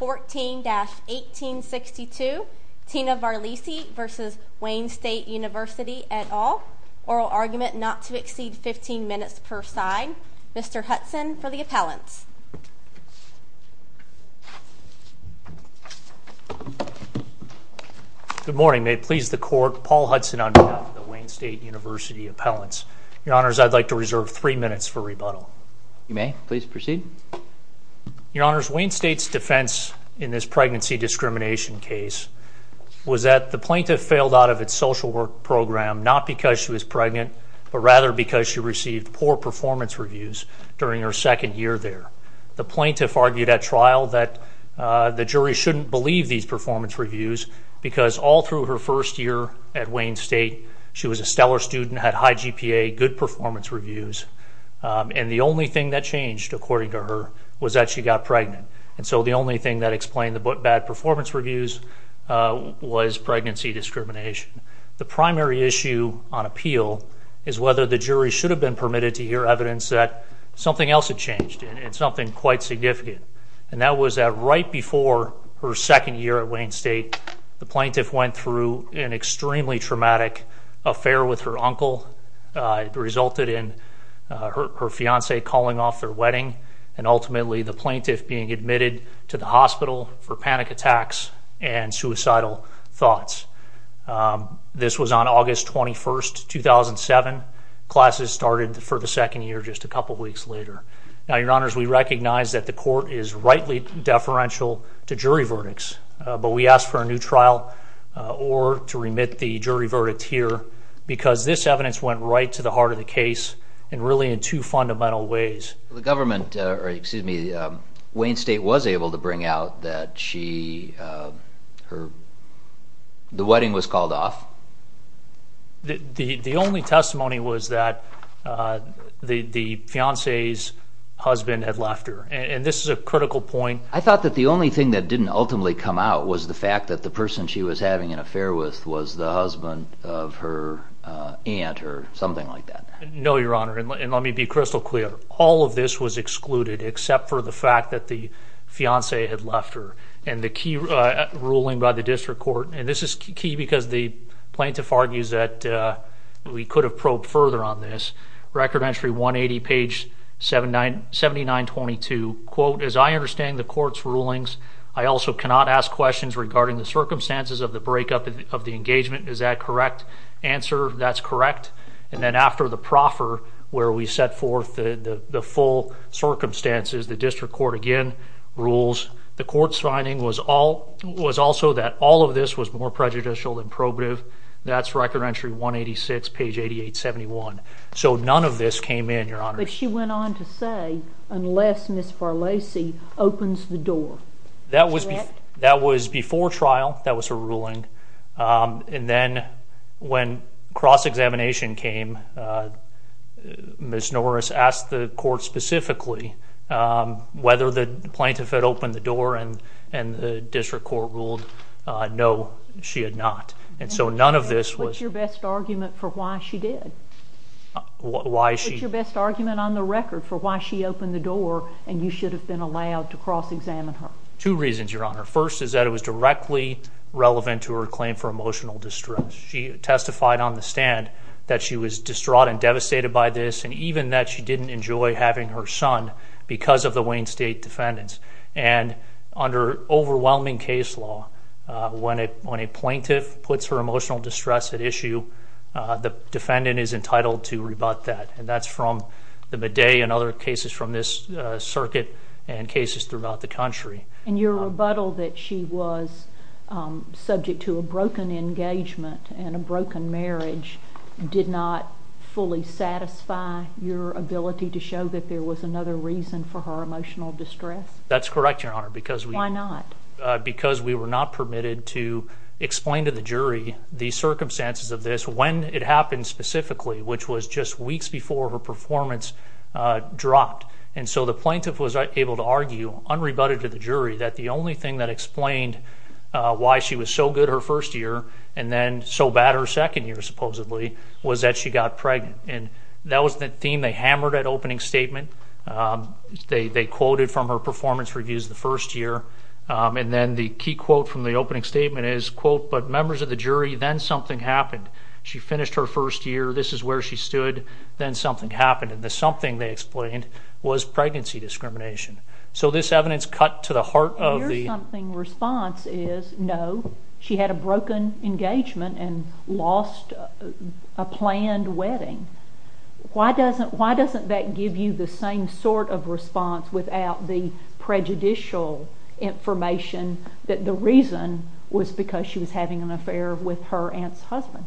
14-1862 Tina Varlesi v. Wayne State University et al. Oral argument not to exceed 15 minutes per side. Mr. Hudson for the appellants. Good morning. May it please the court, Paul Hudson on behalf of the Wayne State University appellants. Your honors, I'd like to reserve three minutes for rebuttal. You may please proceed. Your honors, Wayne State's defense in this pregnancy discrimination case was that the plaintiff failed out of its social work program not because she was pregnant but rather because she received poor performance reviews during her second year there. The plaintiff argued at trial that the jury shouldn't believe these performance reviews because all through her first year at Wayne State she was a stellar student, had high GPA, good performance reviews, and the only thing that changed, according to her, was that she got pregnant. And so the only thing that explained the bad performance reviews was pregnancy discrimination. The primary issue on appeal is whether the jury should have been permitted to hear evidence that something else had changed and something quite significant. And that was that right before her second year at Wayne State, the plaintiff's uncle resulted in her fiance calling off their wedding and ultimately the plaintiff being admitted to the hospital for panic attacks and suicidal thoughts. This was on August 21st, 2007. Classes started for the second year just a couple weeks later. Now, your honors, we recognize that the court is rightly deferential to jury verdicts, but we ask for a new trial or to remit the jury verdict here because this evidence went right to the heart of the case and really in two fundamental ways. The government, excuse me, Wayne State was able to bring out that she, her, the wedding was called off? The only testimony was that the fiance's husband had left her. And this is a critical point. I the fact that the person she was having an affair with was the husband of her aunt or something like that? No, your honor. And let me be crystal clear. All of this was excluded except for the fact that the fiance had left her and the key ruling by the district court. And this is key because the plaintiff argues that we could have probed further on this. Record entry 180 page 79, 79, 22 quote, as I understand the court's rulings, I also cannot ask questions regarding the circumstances of the breakup of the engagement. Is that correct answer? That's correct. And then after the proffer where we set forth the full circumstances, the district court again rules. The court's finding was all was also that all of this was more prejudicial than probative. That's record entry 186 page 88 71. So none of this came in your honor. But she went on to say, unless Miss for Lacey opens the door that was that was before trial, that was a ruling. Um, and then when cross examination came, Miss Norris asked the court specifically, um, whether the plaintiff had opened the door and and the district court ruled no, she had not. And so none of this was your best argument for why she did why she best argument on the record for why she opened the door and you should have been allowed to cross examine her. Two reasons, your honor. First is that it was directly relevant to her claim for emotional distress. She testified on the stand that she was distraught and devastated by this, and even that she didn't enjoy having her son because of the Wayne State defendants. And under overwhelming case law, when it when plaintiff puts her emotional distress at issue, the defendant is entitled to rebut that. And that's from the bidet and other cases from this circuit and cases throughout the country. And your rebuttal that she was subject to a broken engagement and a broken marriage did not fully satisfy your ability to show that there was another reason for her emotional distress. That's correct, your honor. Because why not? Because we were not permitted to explain to the jury the circumstances of this when it happened specifically, which was just weeks before her performance dropped. And so the plaintiff was able to argue unrebutted to the jury that the only thing that explained why she was so good her first year and then so bad her second year, supposedly, was that she got pregnant. And that was the theme they hammered at opening statement. They quoted from her performance reviews the first year. And then the key quote from the opening statement is, quote, but members of the jury, then something happened. She finished her first year. This is where she stood. Then something happened. And the something, they explained, was pregnancy discrimination. So this evidence cut to the heart of the... And your something response is, no, she had a broken engagement and lost a planned wedding. Why doesn't that give you the same sort of prejudicial information that the reason was because she was having an affair with her aunt's husband?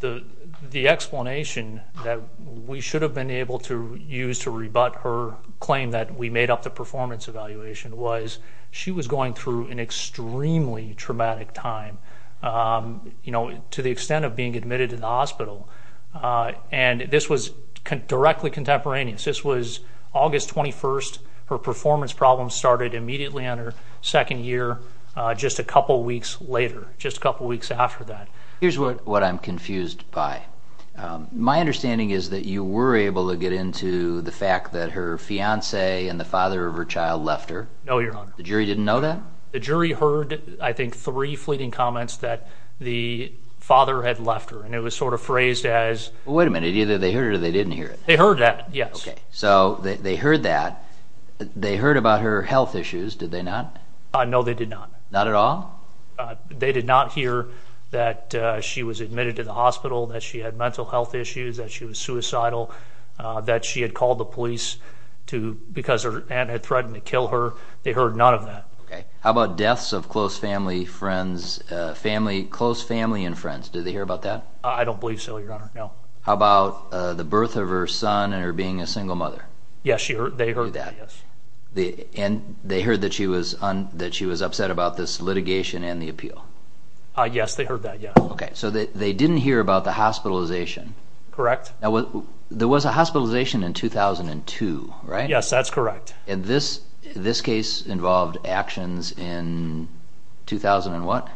The explanation that we should have been able to use to rebut her claim that we made up the performance evaluation was she was going through an extremely traumatic time to the extent of being admitted to the hospital. And this was directly contemporaneous. This was August 21st. Her performance problems started immediately on her second year just a couple weeks later, just a couple weeks after that. Here's what I'm confused by. My understanding is that you were able to get into the fact that her fiance and the father of her child left her. No, Your Honor. The jury didn't know that? The jury heard, I think, three fleeting comments that the father had left her. And it was sort of phrased as... Wait a minute. Either they heard it or they didn't hear it. They heard that, yes. So they heard that. They heard about her health issues, did they not? No, they did not. Not at all? They did not hear that she was admitted to the hospital, that she had mental health issues, that she was suicidal, that she had called the police because her aunt had threatened to kill her. They heard none of that. How about deaths of close family and friends? Did they hear about that? I don't believe so, Your Honor. No. How about the birth of her son and her being a single mother? Yes, they heard that, yes. And they heard that she was upset about this litigation and the appeal? Yes, they heard that, yes. Okay, so they didn't hear about the hospitalization? Correct. Now, there was a hospitalization in 2002, right? Yes, that's correct. And this case involved actions in 2000 and what?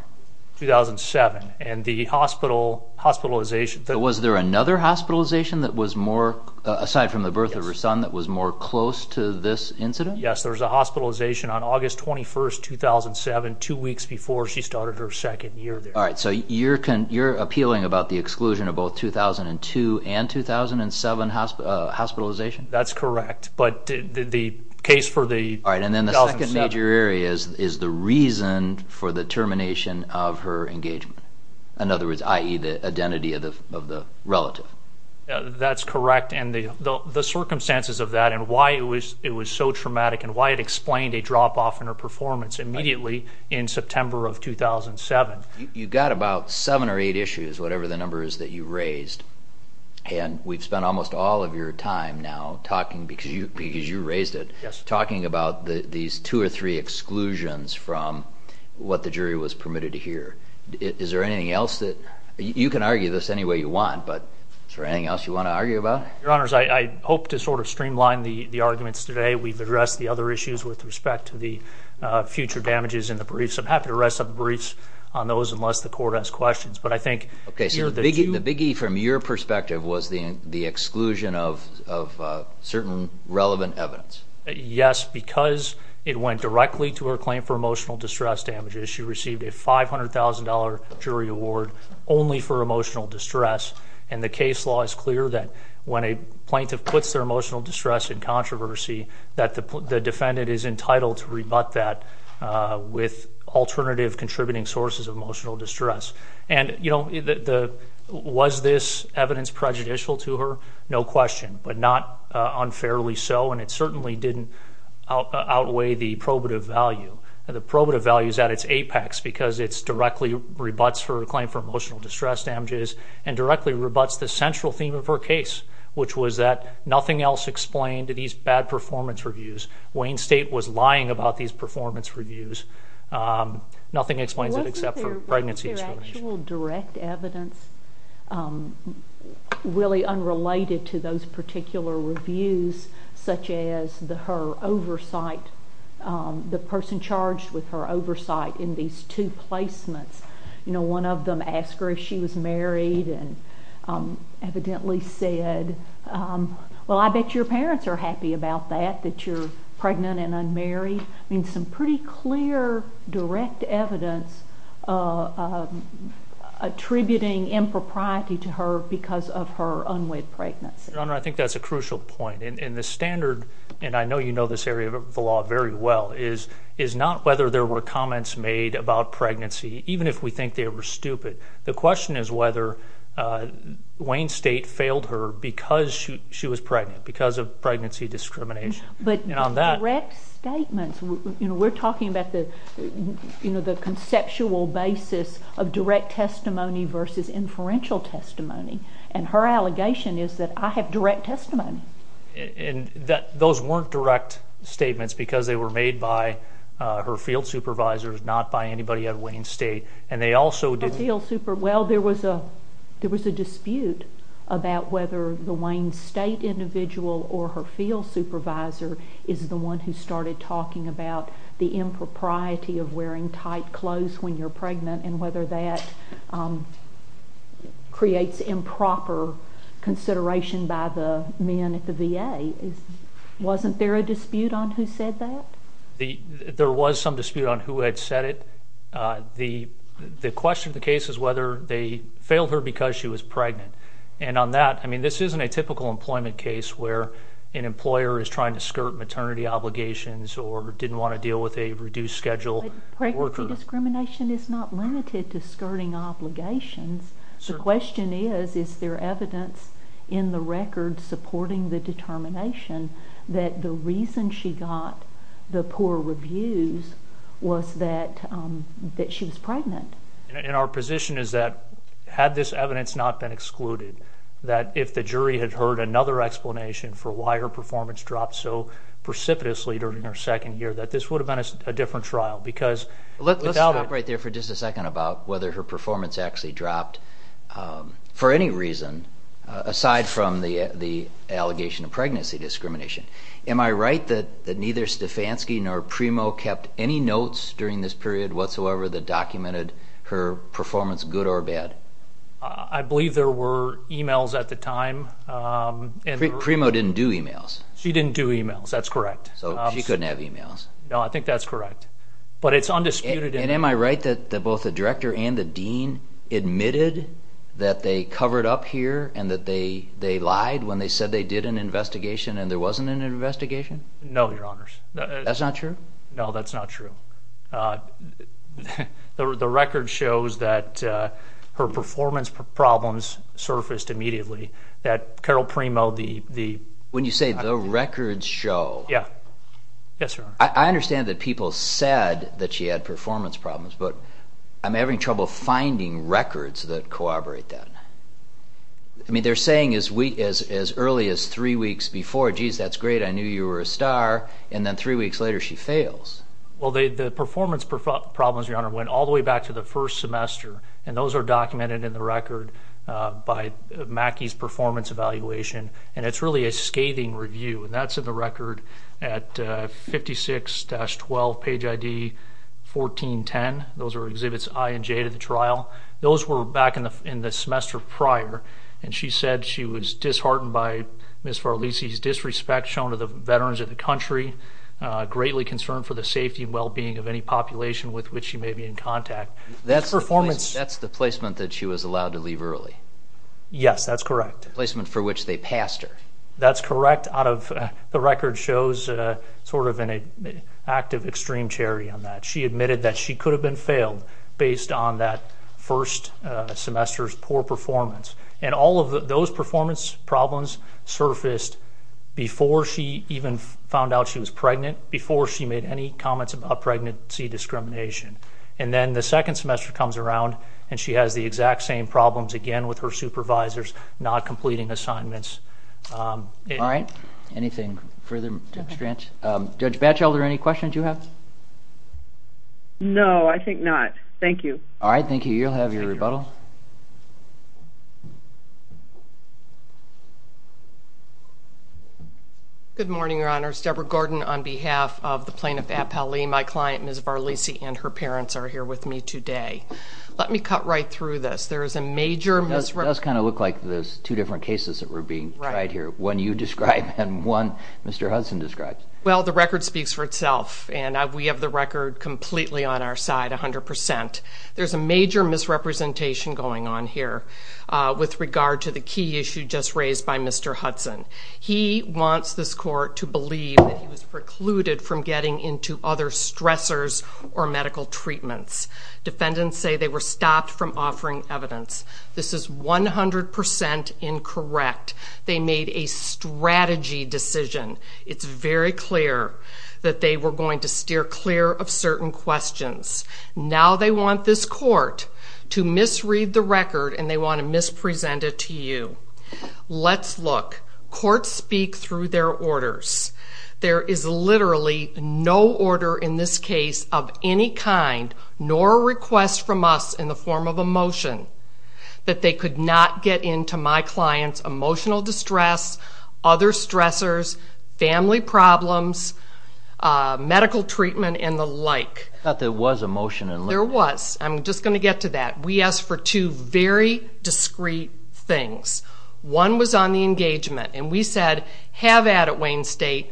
2007. And the hospitalization. Was there another hospitalization that was more, aside from the birth of her son, that was more close to this incident? Yes, there was a hospitalization on August 21st, 2007, two weeks before she started her second year there. Alright, so you're appealing about the exclusion of both 2002 and 2007 hospitalization? That's correct. But the case for the 2007. Alright, and then the second major area is the reason for the in other words, i.e. the identity of the relative? That's correct, and the circumstances of that and why it was so traumatic and why it explained a drop-off in her performance immediately in September of 2007. You got about seven or eight issues, whatever the number is that you raised, and we've spent almost all of your time now talking, because you raised it, talking about these two or three exclusions from what the jury was permitted to hear. Is there anything else that, you can argue this any way you want, but is there anything else you want to argue about? Your Honor, I hope to sort of streamline the arguments today. We've addressed the other issues with respect to the future damages in the briefs. I'm happy to rest up the briefs on those unless the court has questions, but I think Okay, so the biggie from your perspective was the exclusion of certain relevant evidence? Yes, because it went directly to her claim for emotional distress damages. She received a $500,000 jury award only for emotional distress, and the case law is clear that when a plaintiff puts their emotional distress in controversy, that the defendant is entitled to rebut that with alternative contributing sources of emotional distress. And, you know, was this evidence prejudicial to her? No question, but not unfairly so, and it certainly didn't outweigh the probative value. The probative value is at its apex because it directly rebuts her claim for emotional distress damages and directly rebuts the central theme of her case, which was that nothing else explained these bad performance reviews. Wayne State was lying about these performance reviews. Nothing explains it except for pregnancy. Was there actual direct evidence really unrelated to those particular reviews, such as her oversight, the person charged with her oversight in these two placements? You know, one of them asked her if she was married and evidently said, well, I bet your parents are happy about that, that you're pregnant and unmarried. I mean, some pretty clear direct evidence attributing impropriety to her because of her unwed pregnancy. Your Honor, I think that's a crucial point, and the standard, and I know you know this area of the law very well, is not whether there were comments made about pregnancy, even if we think they were stupid. The question is whether Wayne State failed her because she was pregnant, because of pregnancy discrimination. But direct statements, you know, we're talking about the conceptual basis of direct testimony versus inferential testimony, and her allegation is that I have direct testimony. And those weren't direct statements because they were made by her field supervisors, not by anybody at Wayne State, and they also didn't... Well, there was a dispute about whether the Wayne State individual or her field supervisor is the one who started talking about the impropriety of wearing tight clothes when you're pregnant, and whether that creates improper consideration by the men at the VA. Wasn't there a dispute on who said that? There was some dispute on who had said it. The question of the case is whether they failed her because she was pregnant. And on that, I mean, this isn't a typical employment case where an employer is trying to skirt maternity obligations or didn't want to deal with a reduced schedule worker. Pregnancy discrimination is not limited to skirting obligations. The question is, is there evidence in the record supporting the determination that the reason she got the poor reviews was that she was pregnant? And our position is that, had this evidence not been excluded, that if the jury had heard another explanation for why her performance dropped so precipitously during her second year, that this would have been a different trial, because... Let's stop right there for just a second about whether her performance actually dropped for any reason, aside from the allegation of pregnancy discrimination. Am I right that neither Stefanski nor Primo kept any notes during this period whatsoever that documented her performance, good or bad? I believe there were emails at the time. Primo didn't do emails. She didn't do emails. That's correct. So she couldn't have emails. No, I think that's correct. But it's undisputed evidence. And am I right that both the director and the dean admitted that they covered up here and that they lied when they said they did an investigation and there wasn't an investigation? No, your honors. That's not true? No, that's not true. The record shows that her performance problems surfaced immediately. That Carol Primo, the... When you say the record show... I understand that people said that she had performance problems, but I'm having trouble finding records that corroborate that. I mean, they're saying as early as three weeks before, geez, that's great, I knew you were a star, and then three weeks later she fails. Well, the performance problems, your honor, went all the way back to the first semester. And those are documented in the record by Mackey's performance evaluation. And it's really a scathing review. And that's in the record at 56-12, page ID 1410. Those are exhibits I and J to the trial. Those were back in the semester prior. And she said she was disheartened by Ms. Farlisi's disrespect shown to the veterans of the country. Greatly concerned for the safety and well-being of any population with which she may be in contact. That's the placement that she was allowed to leave early? Yes, that's correct. The placement for which they passed her. That's correct. The record shows sort of an act of extreme charity on that. She admitted that she could have been failed based on that first semester's poor performance. And all of those performance problems surfaced before she even found out she was pregnant, before she made any comments about pregnancy discrimination. And then the second semester comes around and she has the exact same problems again with her supervisors, not completing assignments. All right. Anything further? Judge Batchelder, any questions you have? No, I think not. Thank you. All right. Thank you. You'll have your rebuttal. Good morning, Your Honors. Deborah Gordon on behalf of the plaintiff at Pali. My client, Ms. Farlisi, and her parents are here with me today. Let me cut right through this. There is a major misrepresentation. It does kind of look like there's two different cases that were being tried here. One you described and one Mr. Hudson described. Well, the record speaks for itself. And we have the record completely on our side, 100%. There's a major misrepresentation going on here with regard to the key issue just raised by Mr. Hudson. He wants this court to believe that he was precluded from getting into other stressors or medical treatments. Defendants say they were stopped from offering evidence. This is 100% incorrect. They made a strategy decision. It's very clear that they were going to steer clear of certain questions. Now they want this court to misread the record and they want to mispresent it to you. Let's look. Courts speak through their orders. There is literally no order in this case of any kind nor a request from us in the form of a motion that they could not get into my client's emotional distress, other stressors, family problems, medical treatment and the like. I thought there was a motion. There was. I'm just going to get to that. We asked for two very discreet things. One was on the engagement and we said, have at it Wayne State.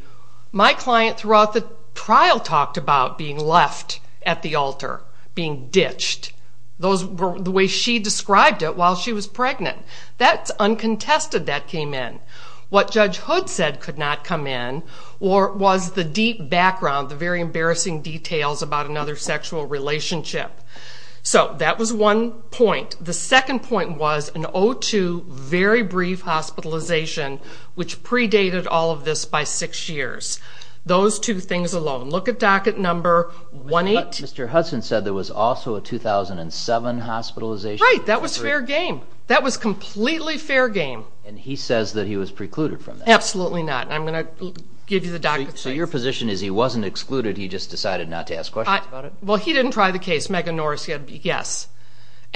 My client throughout the trial talked about being left at the altar, being ditched. The way she described it while she was pregnant. That's uncontested that came in. What Judge Hood said could not come in or was the deep background, the very embarrassing details about another sexual relationship. So that was one point. The second point was an O2 very brief hospitalization which predated all of this by six years. Those two things alone. Look at docket number 18. But Mr. Hudson said there was also a 2007 hospitalization. Right, that was fair game. That was completely fair game. And he says that he was precluded from that. Absolutely not. I'm going to give you the docket. So your position is he wasn't excluded, he just decided not to ask questions about it? Well, he didn't try the case. Megan Norris said yes.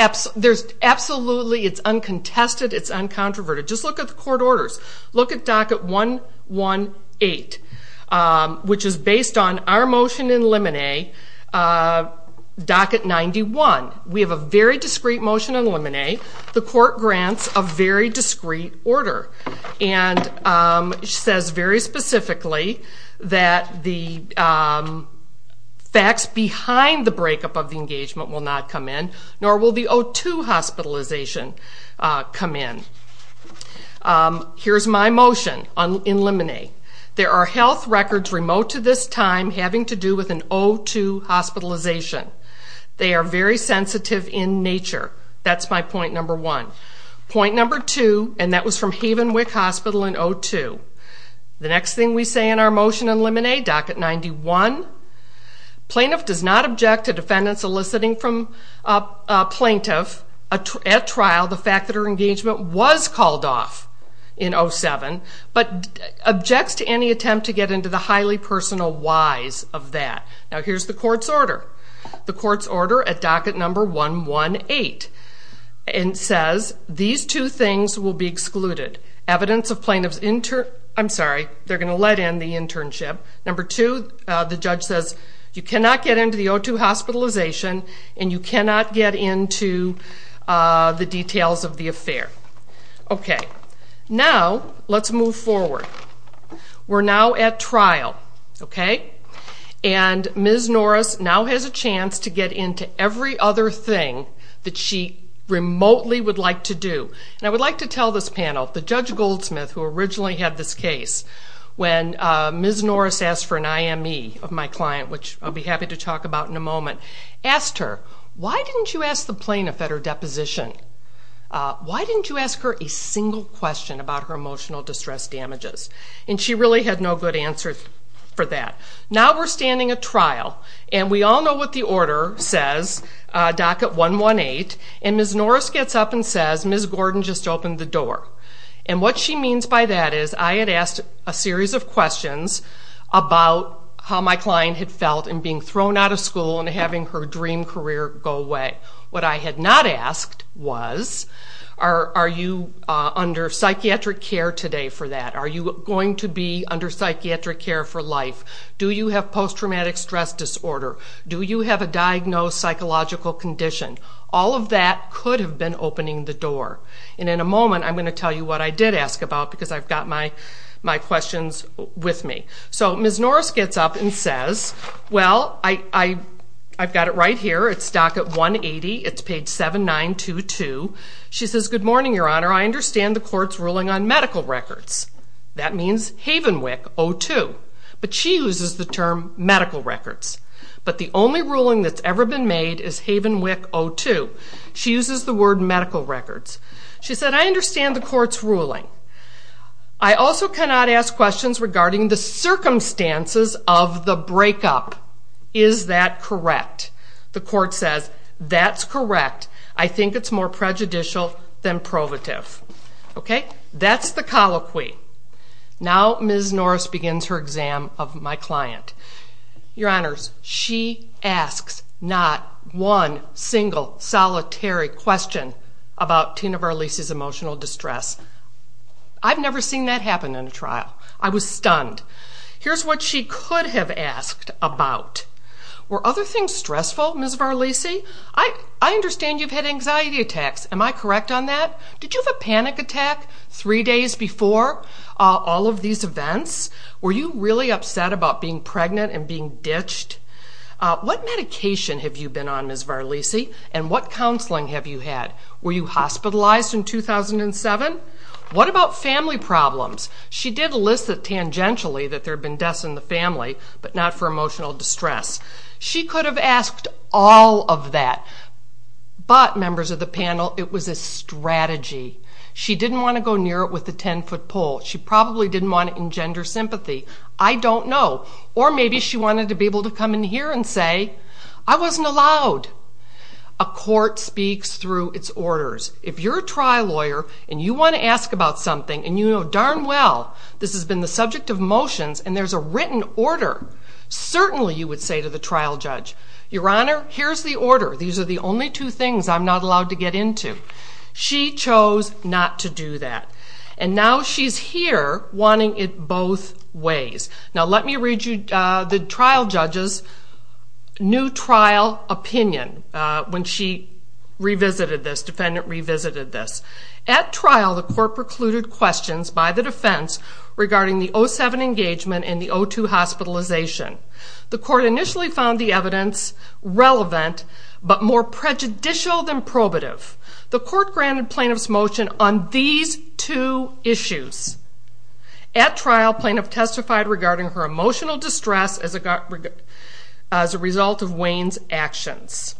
Absolutely, it's uncontested, it's uncontroverted. Just look at the court orders. Look at docket 118, which is based on our motion in limine, docket 91. We have a very discreet motion in limine. The court grants a very discreet order. And it says very specifically that the facts behind the breakup of the engagement will not come in. Nor will the O2 hospitalization come in. Here's my motion in limine. There are health records remote to this time having to do with an O2 hospitalization. They are very sensitive in nature. That's my point number one. Point number two, and that was from Havenwick Hospital in O2. The next thing we say in our motion in limine, docket 91, plaintiff does not object to defendants eliciting from a plaintiff at trial the fact that her engagement was called off in 07, but objects to any attempt to get into the highly personal whys of that. Now here's the court's order. The court's order at docket number 118. It says these two things will be excluded. Evidence of plaintiff's, I'm sorry, they're going to let in the internship. Number two, the judge says you cannot get into the O2 hospitalization and you cannot get into the details of the affair. Now let's move forward. We're now at trial. Ms. Norris now has a chance to get into every other thing that she remotely would like to do. I would like to tell this panel, the Judge Goldsmith who originally had this case, when Ms. Norris asked for an IME of my client, which I'll be happy to talk about in a moment, asked her, why didn't you ask the plaintiff at her deposition? Why didn't you ask her a single question about her emotional distress damages? And she really had no good answer for that. Now we're standing at trial and we all know what the order says, docket 118, and Ms. Norris gets up and says, Ms. Gordon just opened the door. And what she means by that is I had asked a series of questions about how my client had felt in being thrown out of school and having her dream career go away. What I had not asked was, are you under psychiatric care today for that? Are you going to be under psychiatric care for life? Do you have post-traumatic stress disorder? Do you have a diagnosed psychological condition? All of that could have been opening the door. And in a moment I'm going to tell you what I did ask about because I've got my questions with me. So Ms. Norris gets up and says, well, I've got it right here. It's docket 180. It's page 7922. She says, good morning, Your Honor. I understand the court's ruling on medical records. That means Havenwick O2. But she uses the term medical records. But the only ruling that's ever been made is Havenwick O2. She uses the word medical records. She said, I understand the court's ruling. I also cannot ask questions regarding the circumstances of the breakup. Is that correct? The court says, that's correct. I think it's more prejudicial than provative. That's the colloquy. Now Ms. Norris begins her exam of my client. Your Honors, she asks not one single solitary question about Tina Varlisi's emotional distress. I've never seen that happen in a trial. I was stunned. Here's what she could have asked about. Were other things stressful, Ms. Varlisi? I understand you've had anxiety attacks. Am I correct on that? Did you have a panic attack three days before all of these events? Were you really upset about being pregnant and being ditched? What medication have you been on, Ms. Varlisi? And what counseling have you had? Were you hospitalized in 2007? What about family problems? She did list tangentially that there had been deaths in the family, but not for emotional distress. She could have asked all of that. But, members of the panel, it was a strategy. She didn't want to go near it with a 10-foot pole. She probably didn't want to engender sympathy. I don't know. Or maybe she wanted to be able to come in here and say, I wasn't allowed. A court speaks through its orders. If you're a trial lawyer and you want to ask about something and you know darn well this has been the subject of motions and there's a written order, certainly you would say to the trial judge, Your Honor, here's the order. These are the only two things I'm not allowed to get into. She chose not to do that. And now she's here wanting it both ways. Now let me read you the trial judge's new trial opinion when she revisited this, defendant revisited this. At trial, the court precluded questions by the defense regarding the 07 engagement and the 02 hospitalization. The court initially found the evidence relevant but more prejudicial than probative. The court granted plaintiff's motion on these two issues. At trial, plaintiff testified regarding her emotional distress as a result of Wayne's actions.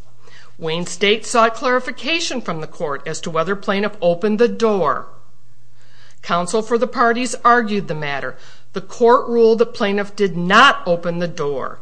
Wayne State sought clarification from the court as to whether plaintiff opened the door. Counsel for the parties argued the matter. The court ruled that plaintiff did not open the door.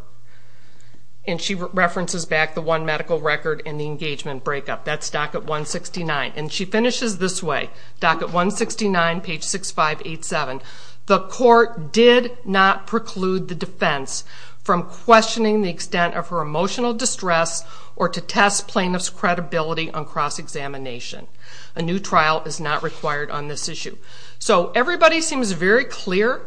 And she references back the one medical record in the engagement breakup. That's docket 169. And she finishes this way, docket 169, page 6587. The court did not preclude the defense from questioning the extent of her emotional distress or to test plaintiff's credibility on cross-examination. A new trial is not required on this issue. So everybody seems very clear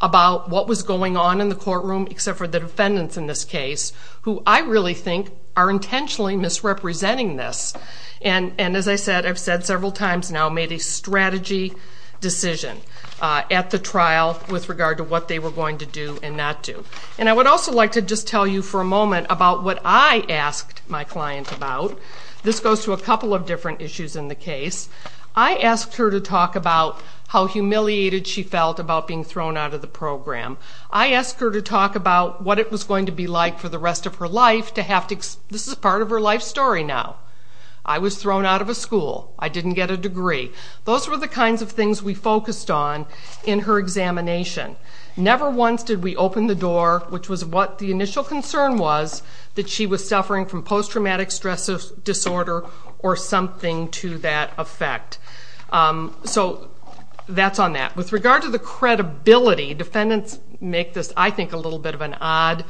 about what was going on in the courtroom except for the defendants in this case, who I really think are intentionally misrepresenting this. And as I said, I've said several times now, made a strategy decision at the trial with regard to what they were going to do and not do. And I would also like to just tell you for a moment about what I asked my client about. This goes to a couple of different issues in the case. I asked her to talk about how humiliated she felt about being thrown out of the program. I asked her to talk about what it was going to be like for the rest of her life. This is part of her life story now. I was thrown out of a school. I didn't get a degree. Those were the kinds of things we focused on in her examination. Never once did we open the door, which was what the initial concern was, that she was suffering from post-traumatic stress disorder or something to that effect. So that's on that. With regard to the credibility, defendants make this, I think, a little bit of an odd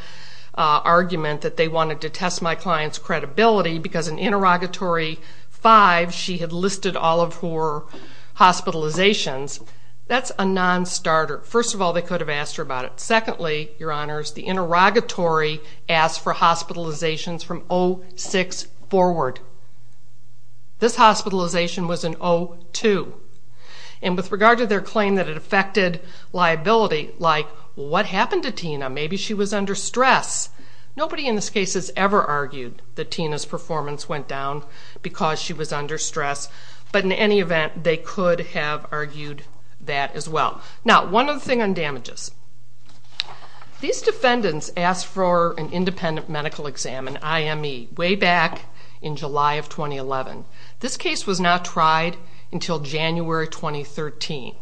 argument that they wanted to test my client's credibility because in Interrogatory 5 she had listed all of her hospitalizations. That's a non-starter. First of all, they could have asked her about it. Secondly, Your Honors, the interrogatory asked for hospitalizations from 06 forward. This hospitalization was in 02. With regard to their claim that it affected liability, like what happened to Tina? Maybe she was under stress. Nobody in this case has ever argued that Tina's performance went down because she was under stress. But in any event, they could have argued that as well. One other thing on damages. These defendants asked for an independent medical exam, an IME, way back in July of 2011. This case was not tried until January 2013.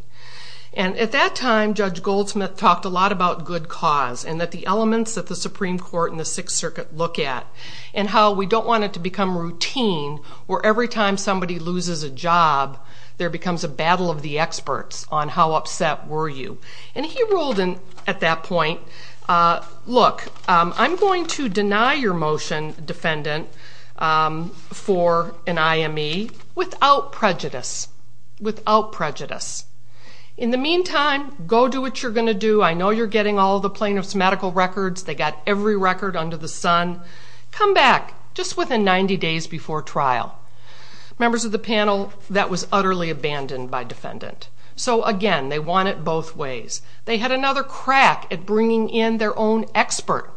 At that time, Judge Goldsmith talked a lot about good cause and the elements that the Supreme Court and the Sixth Circuit look at and how we don't want it to become routine where every time somebody loses a job, there becomes a battle of the experts on how upset were you. He ruled at that point, Look, I'm going to deny your motion, defendant, for an IME without prejudice. Without prejudice. In the meantime, go do what you're going to do. I know you're getting all the plaintiff's medical records. They got every record under the sun. Come back just within 90 days before trial. Members of the panel, that was utterly abandoned by defendant. So again, they want it both ways. They had another crack at bringing in their own expert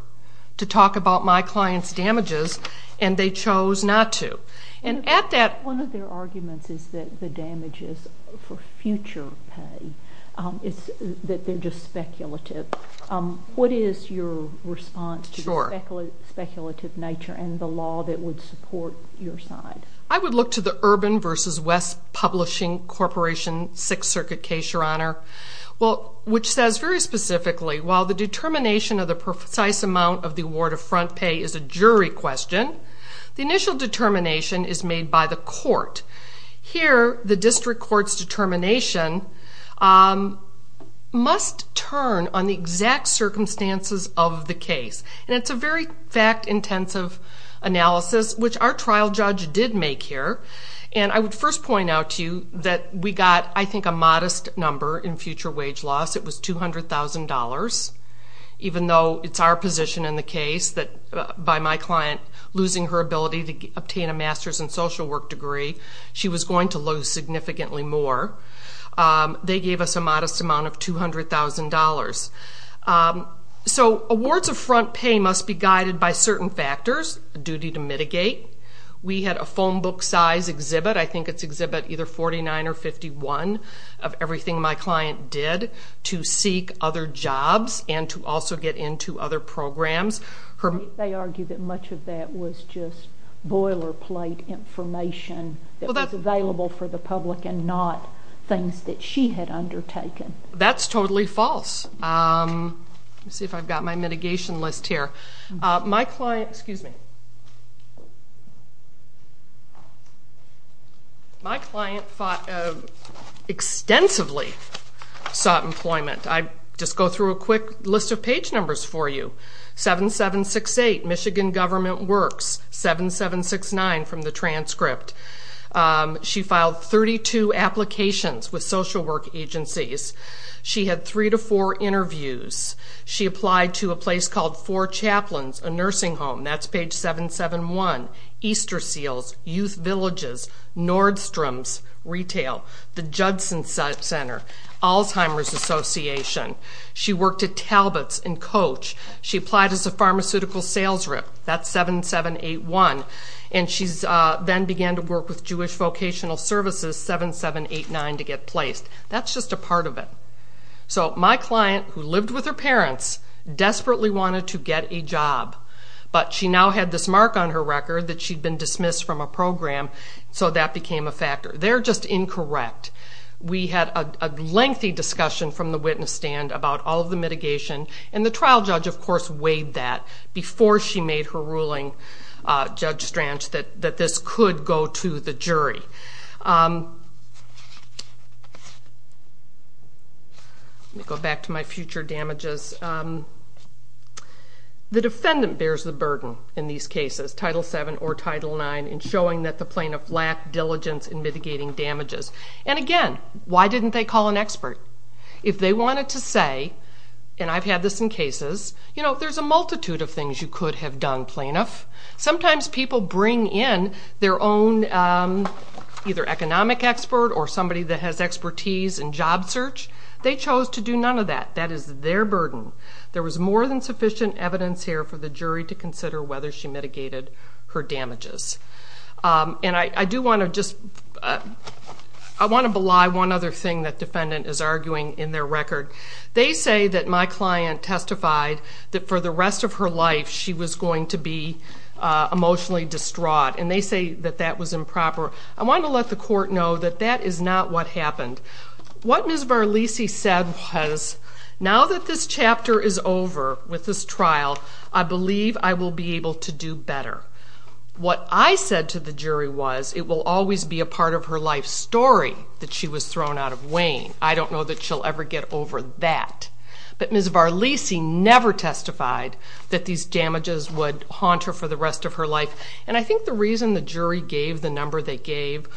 to talk about my client's damages, and they chose not to. One of their arguments is that the damages for future pay, that they're just speculative. What is your response to the speculative nature and the law that would support your side? I would look to the Urban v. West Publishing Corporation Sixth Circuit case, Your Honor. Which says very specifically, while the determination of the precise amount of the award of front pay is a jury question, the initial determination is made by the court. Here, the district court's determination must turn on the exact circumstances of the case. It's a very fact-intensive analysis, which our trial judge did make here. I would first point out to you that we got, I think, a modest number in future wage loss. It was $200,000, even though it's our position in the case that by my client losing her ability to obtain a master's in social work degree, she was going to lose significantly more. They gave us a modest amount of $200,000. So awards of front pay must be guided by certain factors, a duty to mitigate. We had a phone book size exhibit. I think it's exhibit either 49 or 51 of everything my client did to seek other jobs and to also get into other programs. They argue that much of that was just boilerplate information that was available for the public and not things that she had undertaken. That's totally false. Let me see if I've got my mitigation list here. Excuse me. My client extensively sought employment. I'll just go through a quick list of page numbers for you. 7768, Michigan Government Works. 7769 from the transcript. She filed 32 applications with social work agencies. She had three to four interviews. She applied to a place called Four Chaplains, a nursing home. That's page 771. Easter Seals, Youth Villages, Nordstrom's Retail, the Judson Center, Alzheimer's Association. She worked at Talbot's and Coach. She applied as a pharmaceutical sales rep. That's 7781. And she then began to work with Jewish Vocational Services, 7789, to get placed. That's just a part of it. So my client, who lived with her parents, desperately wanted to get a job, but she now had this mark on her record that she'd been dismissed from a program, so that became a factor. They're just incorrect. We had a lengthy discussion from the witness stand about all of the mitigation, and the trial judge, of course, weighed that before she made her ruling, Judge Strange, that this could go to the jury. Let me go back to my future damages. The defendant bears the burden in these cases, Title VII or Title IX, in showing that the plaintiff lacked diligence in mitigating damages. And again, why didn't they call an expert? If they wanted to say, and I've had this in cases, you know, there's a multitude of things you could have done, plaintiff. Sometimes people bring in their own, either economic expert or somebody that has expertise in job search. They chose to do none of that. That is their burden. There was more than sufficient evidence here for the jury to consider whether she mitigated her damages. And I do want to just... I want to belie one other thing that defendant is arguing in their record. They say that my client testified that for the rest of her life she was going to be emotionally distraught, and they say that that was improper. I want to let the court know that that is not what happened. What Ms. Varlisi said was, now that this chapter is over with this trial, I believe I will be able to do better. What I said to the jury was, it will always be a part of her life story that she was thrown out of Wayne. I don't know that she'll ever get over that. But Ms. Varlisi never testified that these damages would haunt her for the rest of her life. And I think the reason the jury gave the number they gave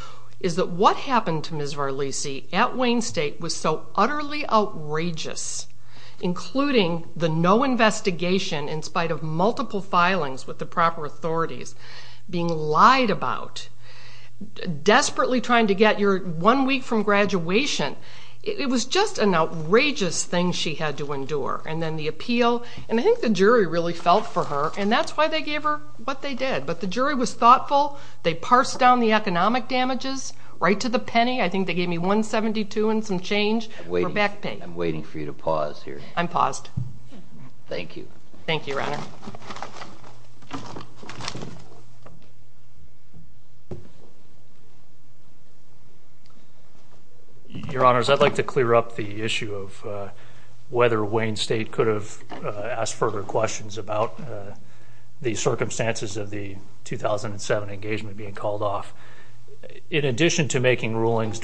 is that what happened to Ms. Varlisi at Wayne State was so utterly outrageous, including the no investigation in spite of multiple filings with the proper authorities, being lied about, desperately trying to get your one week from graduation. It was just an outrageous thing she had to endure. And then the appeal... And I think the jury really felt for her, and that's why they gave her what they did. But the jury was thoughtful. They parsed down the economic damages right to the penny. I think they gave me $172 and some change for back pay. I'm waiting for you to pause here. I'm paused. Thank you. Thank you, Your Honor. Your Honors, I'd like to clear up the issue of whether Wayne State could have asked further questions about the circumstances of the 2007 engagement being called off. In addition to making rulings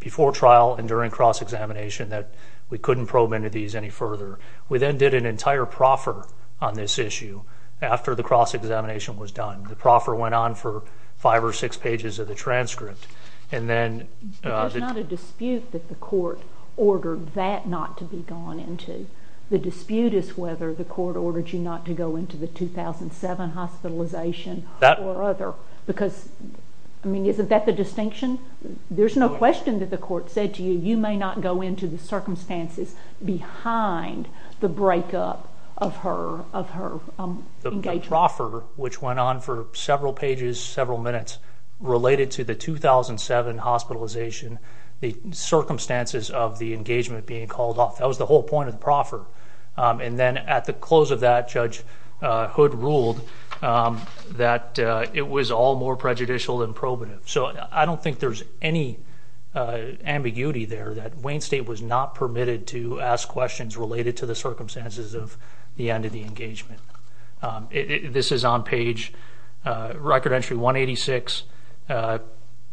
before trial and during cross-examination that we couldn't probe into these any further, we then did an entire proffer on this issue after the cross-examination was done. The proffer went on for 5 or 6 pages of the transcript. There's not a dispute that the court ordered that not to be gone into. The dispute is whether the court ordered you not to go into the 2007 hospitalization or other, because, I mean, isn't that the distinction? There's no question that the court said to you, you may not go into the circumstances behind the breakup of her engagement. The proffer, which went on for several pages, several minutes, related to the 2007 hospitalization, the circumstances of the engagement being called off. That was the whole point of the proffer. And then at the close of that, Judge Hood ruled that it was all more prejudicial than probative. So I don't think there's any ambiguity there that Wayne State was not permitted to ask questions related to the circumstances of the end of the engagement. This is on page record entry 186,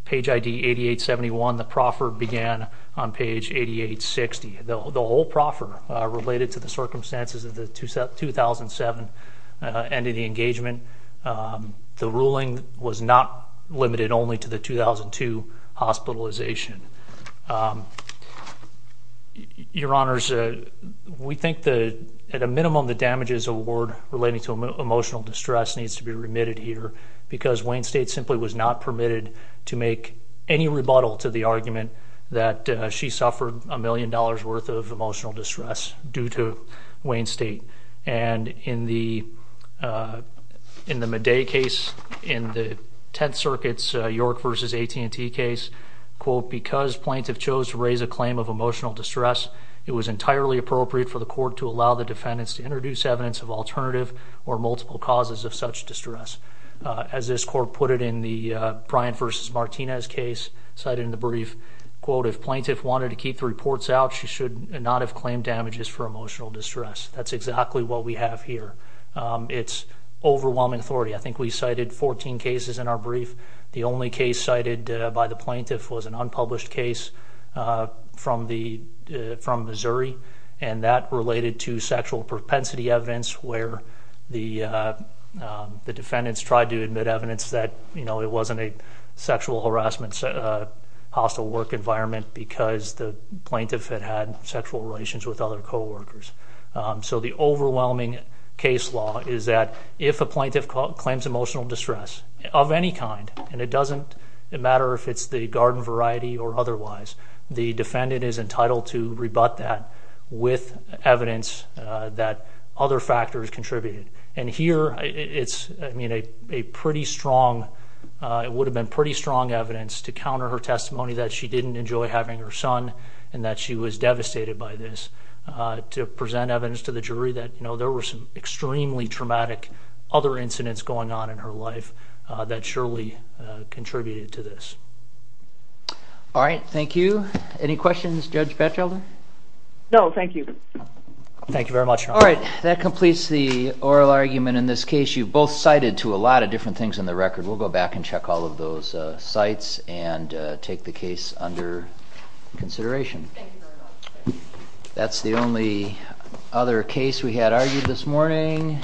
page ID 8871. The proffer began on page 8860. The whole proffer related to the circumstances of the 2007 end of the engagement. The ruling was not limited only to the 2002 hospitalization. Your Honors, we think that, at a minimum, the damages award relating to emotional distress needs to be remitted here, because Wayne State simply was not permitted to make any rebuttal to the argument that she suffered a million dollars worth of emotional distress due to Wayne State. And in the Madej case, in the Tenth Circuit's York v. AT&T case, quote, because plaintiff chose to raise a claim of emotional distress, it was entirely appropriate for the court to allow the defendants to introduce evidence of alternative or multiple causes of such distress. As this court put it in the Bryan v. Martinez case, cited in the brief, quote, if plaintiff wanted to keep the reports out, she should not have claimed damages for emotional distress. That's exactly what we have here. It's overwhelming authority. I think we cited 14 cases in our brief. The only case cited by the plaintiff was an unpublished case from Missouri, and that related to sexual propensity evidence where the defendants tried to admit evidence that it wasn't a sexual harassment hostile work environment because the plaintiff had had sexual relations with other coworkers. So the overwhelming case law is that if a plaintiff claims emotional distress of any kind, and it doesn't matter if it's the garden variety or otherwise, the defendant is entitled to rebut that with evidence that other factors contributed. And here it's, I mean, a pretty strong, it would have been pretty strong evidence to counter her testimony that she didn't enjoy having her son and that she was devastated by this, to present evidence to the jury that, you know, there were some extremely traumatic other incidents going on in her life that surely contributed to this. All right, thank you. Any questions, Judge Batchelder? No, thank you. Thank you very much. All right, that completes the oral argument in this case. You've both cited to a lot of different things in the record. We'll go back and check all of those sites and take the case under consideration. Thank you very much. That's the only other case we had argued this morning.